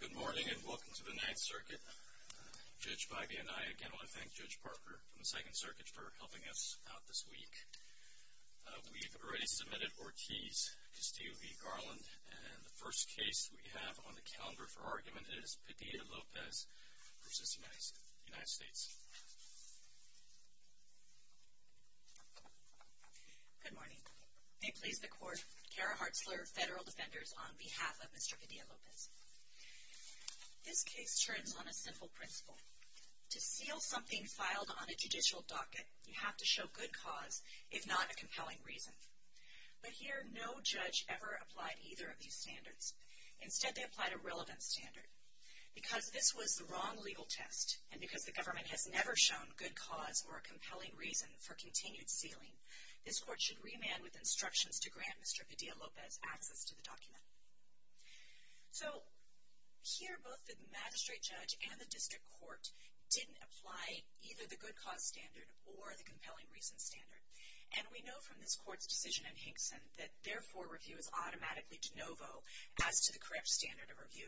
Good morning and welcome to the Ninth Circuit. Judge Biby and I again want to thank Judge Parker from the Second Circuit for helping us out this week. We've already submitted four keys to Steve Garland and the first case we have on the Good morning. May it please the Court, Kara Hartzler, Federal Defenders, on behalf of Mr. Padilla-Lopez. This case turns on a simple principle. To seal something filed on a judicial docket, you have to show good cause, if not a compelling reason. But here, no judge ever applied either of these standards. Instead, they applied a relevant standard. Because this was the wrong legal test, and because the government has never shown good reason for continued sealing, this Court should remand with instructions to grant Mr. Padilla-Lopez access to the document. So here, both the magistrate judge and the district court didn't apply either the good cause standard or the compelling reason standard. And we know from this Court's decision in Hinkson that therefore review is automatically de novo as to the correct standard of review.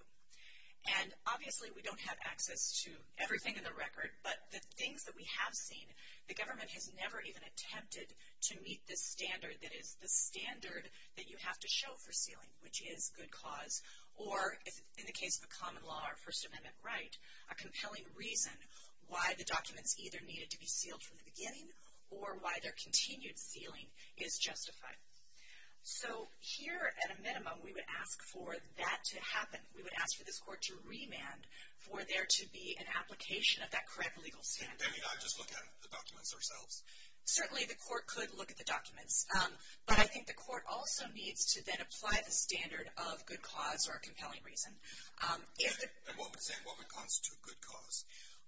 And obviously we don't have access to everything in the record, but the things that we have seen, the government has never even attempted to meet the standard that is the standard that you have to show for sealing, which is good cause. Or in the case of a common law or First Amendment right, a compelling reason why the documents either needed to be sealed from the beginning or why their continued sealing is justified. So here, at a minimum, we would ask for that to happen. We would ask for this Court to remand for there to be an application of that correct legal standard. And they may not just look at the documents themselves? Certainly, the Court could look at the documents, but I think the Court also needs to then apply the standard of good cause or compelling reason. And what would constitute good cause?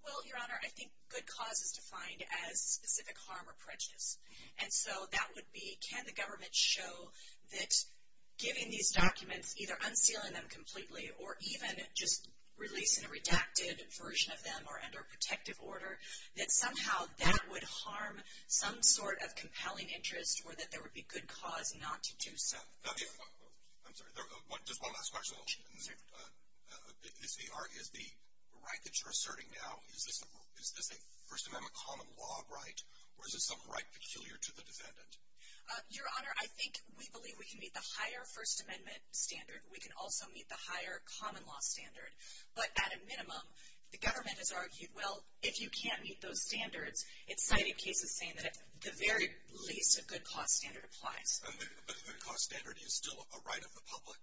Well, Your Honor, I think good cause is defined as specific harm or prejudice. And so that would be, can the government show that giving these documents, either unsealing them completely or even just releasing a redacted version of them or under a protective order, that somehow that would harm some sort of compelling interest or that there would be good cause not to do so. I'm sorry, just one last question. Sure. Is the right that you're asserting now, is this a First Amendment common law right? Or is this some right peculiar to the defendant? Your Honor, I think we believe we can meet the higher First Amendment standard. We can also meet the higher common law standard. But at a minimum, the government has argued, well, if you can't meet those standards, it's cited cases saying that the very least of good cause standard applies. But good cause standard is still a right of the public?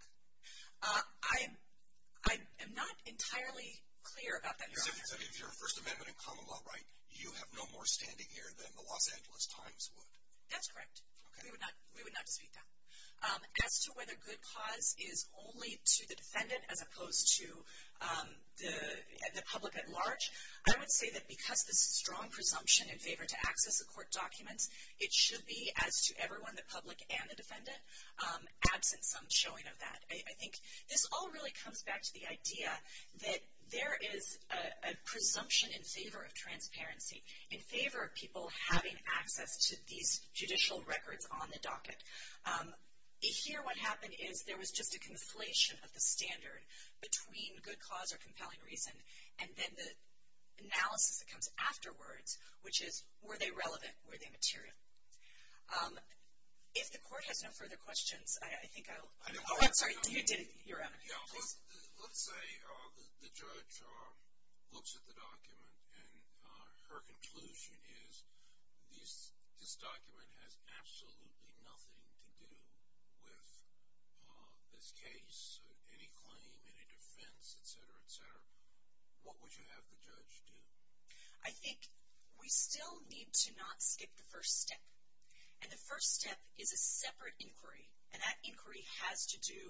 I am not entirely clear about that, Your Honor. So if you're a First Amendment and common law right, you have no more standing here than the Los Angeles Times would? That's correct. We would not dispute that. As to whether good cause is only to the defendant as opposed to the public at large, I would say that because this is a strong presumption in favor to access the court documents, it should be as to everyone, the public and the defendant, absent some showing of that. I think this all really comes back to the idea that there is a presumption in favor of transparency, in favor of people having access to these judicial records on the docket. Here, what happened is there was just a conflation of the standard between good cause or compelling reason and then the analysis that comes afterwards, which is were they relevant? Were they material? If the court has no further questions, I think I'll... Oh, I'm sorry. You did it, Your Honor. Let's say the judge looks at the document and her conclusion is this document has absolutely nothing to do with this case, any claim, any defense, etc., etc. What would you have the judge do? I think we still need to not skip the first step. And the first step is a separate inquiry and that inquiry has to do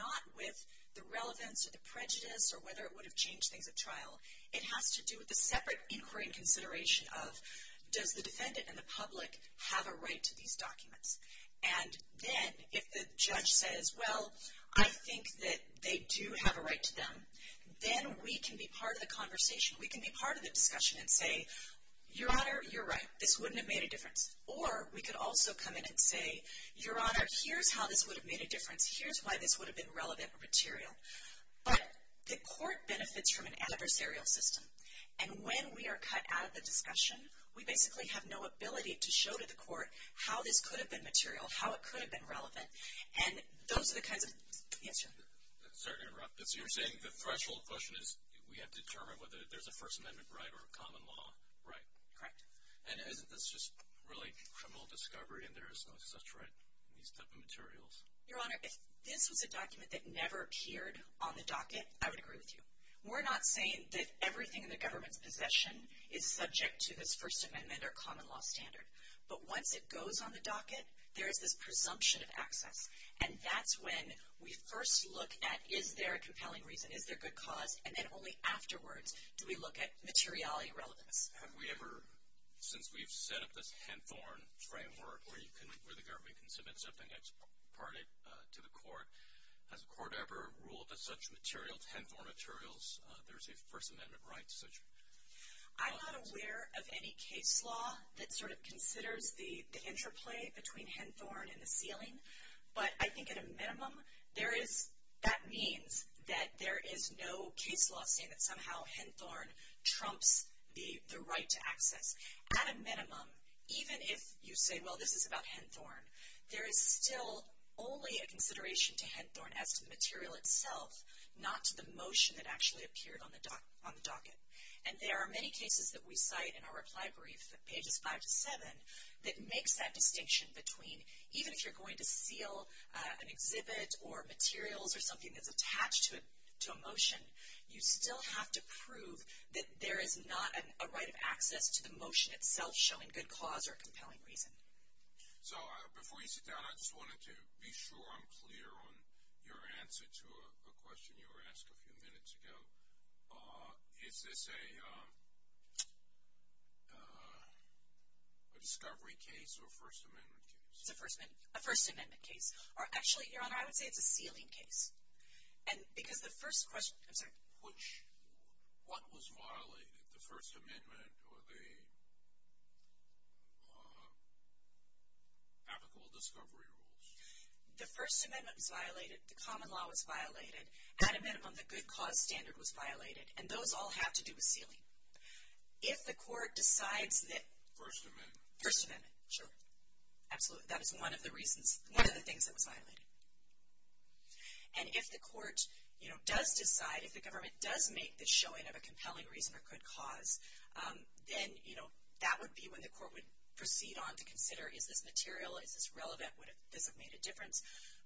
not with the relevance or the prejudice or whether it would have changed things at trial. It has to do with a separate inquiry and consideration of does the defendant and the public have a right to these documents? And then if the judge says, well, I think that they do have a right to them, then we can be part of the conversation. We can be part of the discussion and say, Your Honor, you're right. This wouldn't have made a difference. Or we could also come in and say, Your Honor, here's how this would have made a difference. Here's why this would have been relevant or material. But the court benefits from an adversarial system. And when we are cut out of the discussion, we basically have no ability to show to the court how this could have been material, how it could have been relevant. And those are the kinds of... Yes, sir. Sorry to interrupt. So you're saying the threshold question is we have to determine whether there's a First Amendment right or a common law right? Correct. And isn't this just really criminal discovery and there is no such right in these type of materials? Your Honor, if this was a document that never appeared on the docket, I would agree with you. We're not saying that everything in the government's possession is subject to this First Amendment or common law standard. But once it goes on the docket, there is this presumption of access. And that's when we first look at is there a compelling reason? Is there good cause? And then only afterwards do we look at materiality relevance. Have we ever, since we've set up this Henthorne framework where the government can submit something that's parted to the court, has the court ever ruled that such materials, Henthorne materials, there's a First Amendment right? I'm not aware of any case law that sort of considers the interplay between Henthorne and the ceiling. But I think at a minimum, that means that there is no case law saying that somehow Henthorne trumps the right to access. At a minimum, even if you say, well this is about Henthorne, there is still only a consideration to Henthorne as to the material itself, not to the motion that actually appeared on the docket. And there are many cases that we cite in our reply brief, pages five to seven, that makes that distinction between, even if you're going to seal an exhibit or materials or something that's attached to a motion, you still have to prove that there is not a right of access to the motion itself showing good cause or a compelling reason. So before you sit down, I just wanted to be sure I'm clear on your answer to a question you were asked a few minutes ago. Is this a discovery case or a First Amendment case? It's a First Amendment case. Or actually, Your Honor, I would say it's a sealing case. And because the first question, I'm sorry. Which, what was violated, the First Amendment or the applicable discovery rules? The First Amendment was violated. The common law was violated. At a minimum, the good cause standard was violated. And those all have to do with sealing. If the court decides that. First Amendment. First Amendment, sure. Absolutely. That is one of the reasons, one of the things that was violated. And if the court, you know, does decide, if the government does make the showing of a compelling reason or good cause, then, you know, that would be when the court would proceed on to consider is this material, is this relevant, would this have made a difference.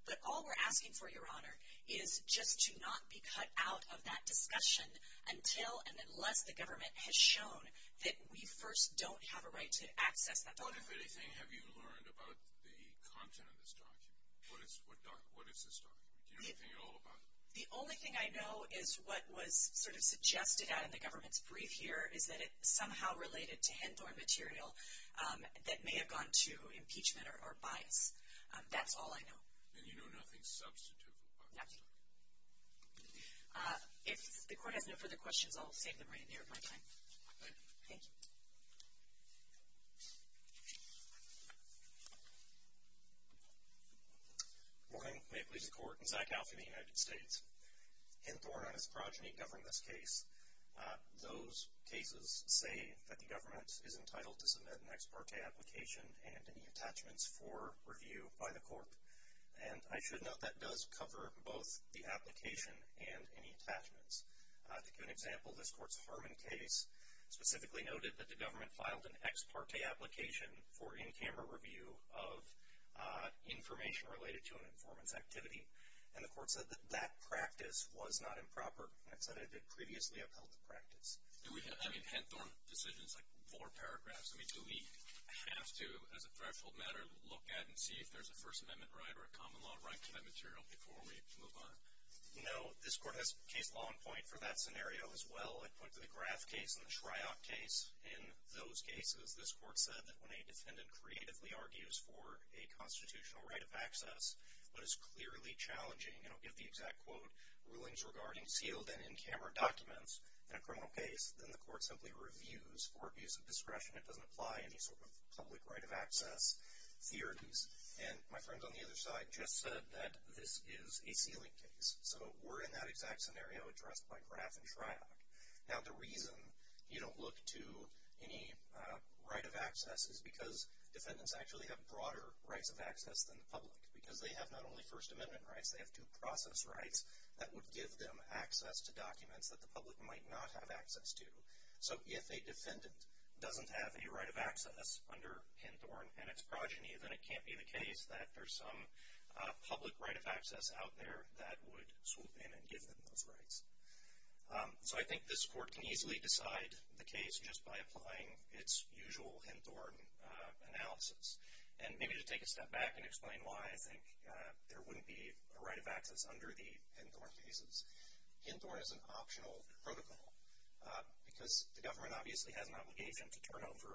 But all we're asking for, Your Honor, is just to not be cut out of that discussion until and unless the government has shown that we first don't have a right to access that document. What, if anything, have you learned about the content of this document? What is this document? Do you know anything at all about it? The only thing I know is what was sort of suggested out in the government's brief here is that it somehow related to Hendthorne material that may have gone to impeachment or bias. That's all I know. And you know nothing substantive about this document? Nothing. If the court has no further questions, I'll save them right near my time. Thank you. Thank you. Good morning. May it please the Court. Zach Alpha of the United States. Hendthorne and his progeny govern this case. Those cases say that the government is entitled to submit an ex parte application and any attachments for review by the court. And I should note that does cover both the application and any attachments. To give an example, this court's Harmon case specifically noted that the government filed an ex parte application for in camera review of information related to an informant's activity. And the court said that that practice was not improper. It said it had previously upheld the practice. Do we have, I mean, Hendthorne decisions like four paragraphs, I mean, do we have to as a threshold matter look at and see if there's a First Amendment right or a common law right to that material before we move on? No. This court has case law in point for that scenario as well. I put the Graff case and the Shryock case in those cases. This court said that when a defendant creatively argues for a constitutional right of access but is clearly challenging, and I'll give the exact quote, rulings regarding sealed and in camera documents in a criminal case, then the court simply reviews for abuse of discretion. It doesn't apply any sort of public right of access theories. And my friends on the other side just said that this is a sealing case. So we're in that exact scenario addressed by Graff and Shryock. Now the reason you don't look to any right of access is because defendants actually have broader rights of access than the public because they have not only First Amendment rights, they have two process rights that would give them access to documents that the public might not have access to. So if a defendant doesn't have a right of access under Hendthorne and its progeny, then it can't be the case that there's some public right of access out there that would swoop in and give them those rights. So I think this court can easily decide the case just by applying its usual Hendthorne analysis. And maybe to take a step back and explain why I think there wouldn't be a right of access under the Hendthorne cases, Hendthorne is an optional protocol because the government obviously has an obligation to turn over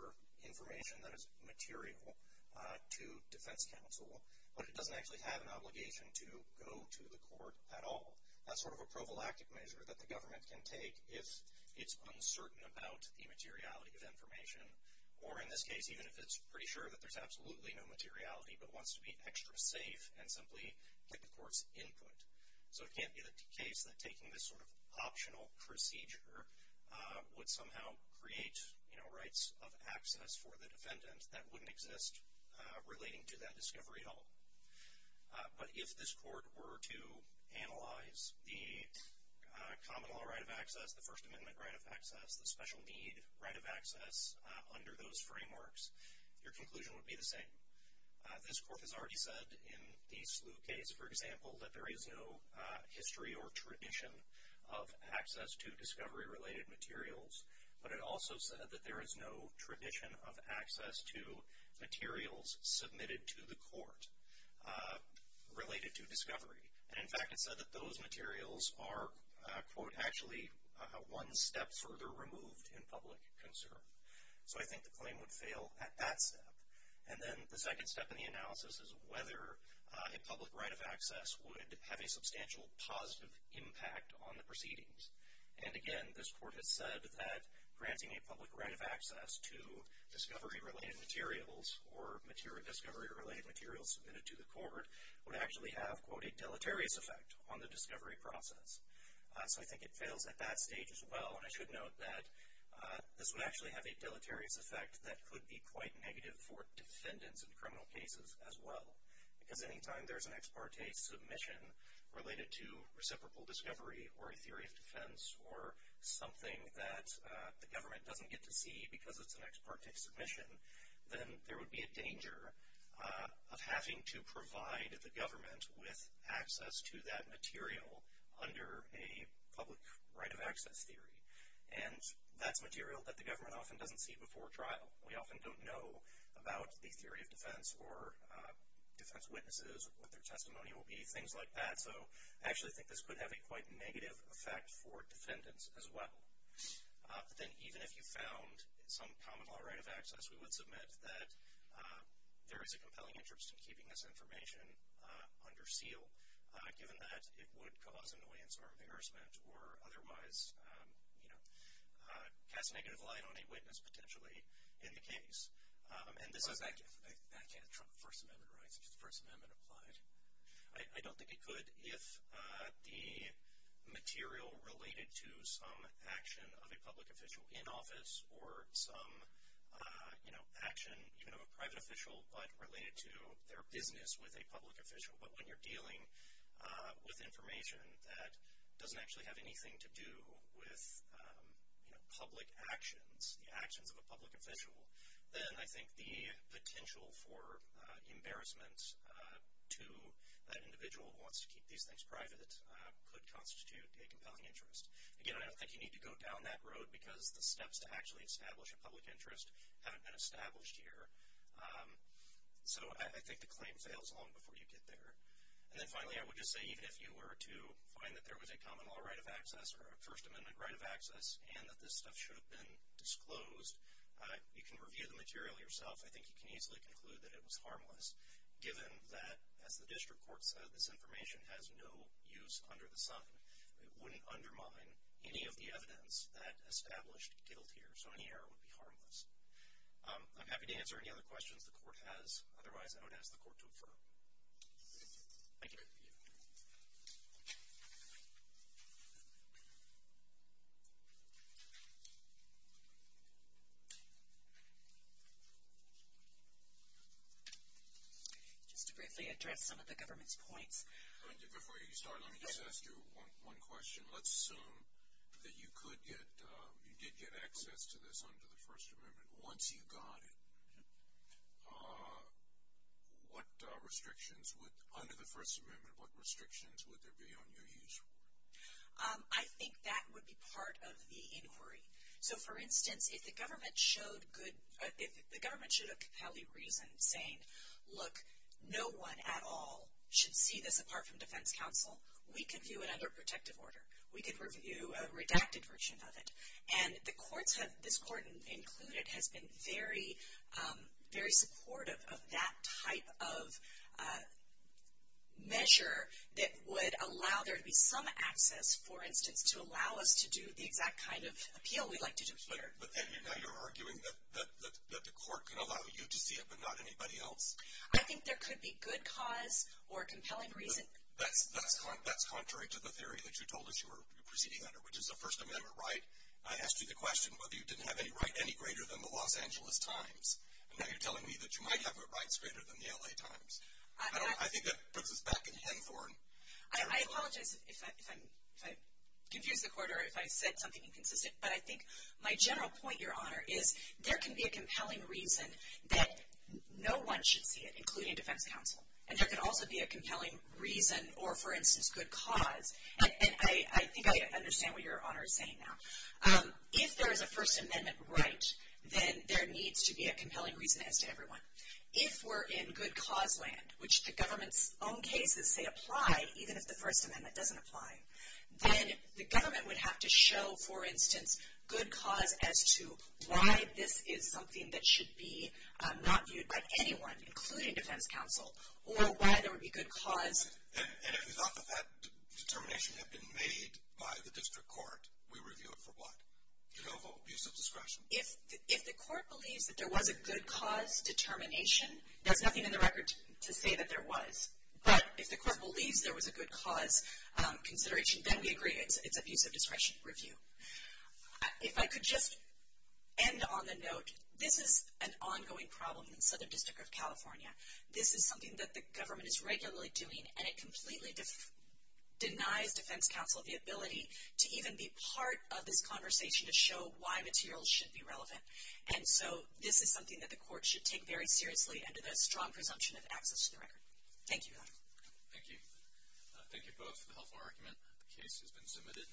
information that is material to defense counsel, but it doesn't actually have an obligation to go to the court at all. That's sort of a prophylactic measure that the government can take if it's uncertain about the materiality of information, or in this case even if it's pretty sure that there's absolutely no materiality but wants to be extra safe and simply get the court's input. So it can't be the case that taking this sort of optional procedure would somehow create rights of access for the defendant that wouldn't exist relating to that discovery at all. But if this court were to analyze the common law right of access, the First Amendment right of access, the special need right of access under those frameworks, your conclusion would be the same. This court has already said in the Slough case, for example, that there is no history or tradition of access to discovery-related materials, but it also said that there is no tradition of access to materials submitted to the court related to discovery. And, in fact, it said that those materials are, quote, actually one step further removed in public concern. So I think the claim would fail at that step. And then the second step in the analysis is whether a public right of access would have a substantial positive impact on the proceedings. And, again, this court has said that granting a public right of access to discovery-related materials or discovery-related materials submitted to the court would actually have, quote, a deleterious effect on the discovery process. So I think it fails at that stage as well. And I should note that this would actually have a deleterious effect that could be quite negative for defendants in criminal cases as well. Because any time there's an ex parte submission related to reciprocal discovery or a theory of defense or something that the government doesn't get to see because it's an ex parte submission, then there would be a danger of having to provide the government with access to that material under a public right of access theory. And that's material that the government often doesn't see before trial. We often don't know about the theory of defense or defense witnesses, what their testimony will be, things like that. So I actually think this could have a quite negative effect for defendants as well. Then even if you found some common law right of access, we would submit that there is a compelling interest in keeping this information under seal, given that it would cause annoyance or embarrassment or otherwise cast a negative light on a witness potentially in the case. That can't trump First Amendment rights, which the First Amendment applied. I don't think it could if the material related to some action of a public official in office or some action, even of a private official, but related to their business with a public official. But when you're dealing with information that doesn't actually have anything to do with public actions, the actions of a public official, then I think the potential for embarrassment to that individual who wants to keep these things private could constitute a compelling interest. Again, I don't think you need to go down that road because the steps to actually establish a public interest haven't been established here. So I think the claim fails long before you get there. And then finally, I would just say even if you were to find that there was a common law right of access or a First Amendment right of access and that this stuff should have been disclosed, you can review the material yourself. I think you can easily conclude that it was harmless, given that, as the district court said, this information has no use under the sun. It wouldn't undermine any of the evidence that established guilt here. So any error would be harmless. I'm happy to answer any other questions the court has. Otherwise, I would ask the court to adjourn. Thank you. Just to briefly address some of the government's points. Before you start, let me just ask you one question. Let's assume that you did get access to this under the First Amendment. Once you got it, under the First Amendment, what restrictions would there be on your use? I think that would be part of the inquiry. So, for instance, if the government showed a compelling reason saying, look, no one at all should see this apart from defense counsel, we could view it under protective order. We could review a redacted version of it. And this court included has been very supportive of that type of measure that would allow there to be some access, for instance, to allow us to do the exact kind of appeal we'd like to do. But then now you're arguing that the court can allow you to see it but not anybody else. I think there could be good cause or compelling reason. That's contrary to the theory that you told us you were proceeding under, which is the First Amendment right. I asked you the question whether you didn't have any right any greater than the Los Angeles Times. And now you're telling me that you might have rights greater than the L.A. Times. I think that puts us back in Hendthorne. I apologize if I confused the court or if I said something inconsistent. But I think my general point, Your Honor, is there can be a compelling reason that no one should see it, including defense counsel. And there could also be a compelling reason or, for instance, good cause. And I think I understand what Your Honor is saying now. If there is a First Amendment right, then there needs to be a compelling reason as to everyone. If we're in good cause land, which the government's own cases say apply, even if the First Amendment doesn't apply, then the government would have to show, for instance, good cause as to why this is something that should be not viewed by anyone, including defense counsel, or why there would be good cause. And if we thought that that determination had been made by the district court, we review it for what? Genovo, abuse of discretion? If the court believes that there was a good cause determination, there's nothing in the record to say that there was. But if the court believes there was a good cause consideration, then we agree it's abuse of discretion review. If I could just end on the note, this is an ongoing problem in the Southern District of California. This is something that the government is regularly doing, and it completely denies defense counsel the ability to even be part of this conversation to show why materials should be relevant. And so this is something that the court should take very seriously under that strong presumption of access to the record. Thank you. Thank you. Thank you both for the helpful argument. The case has been submitted.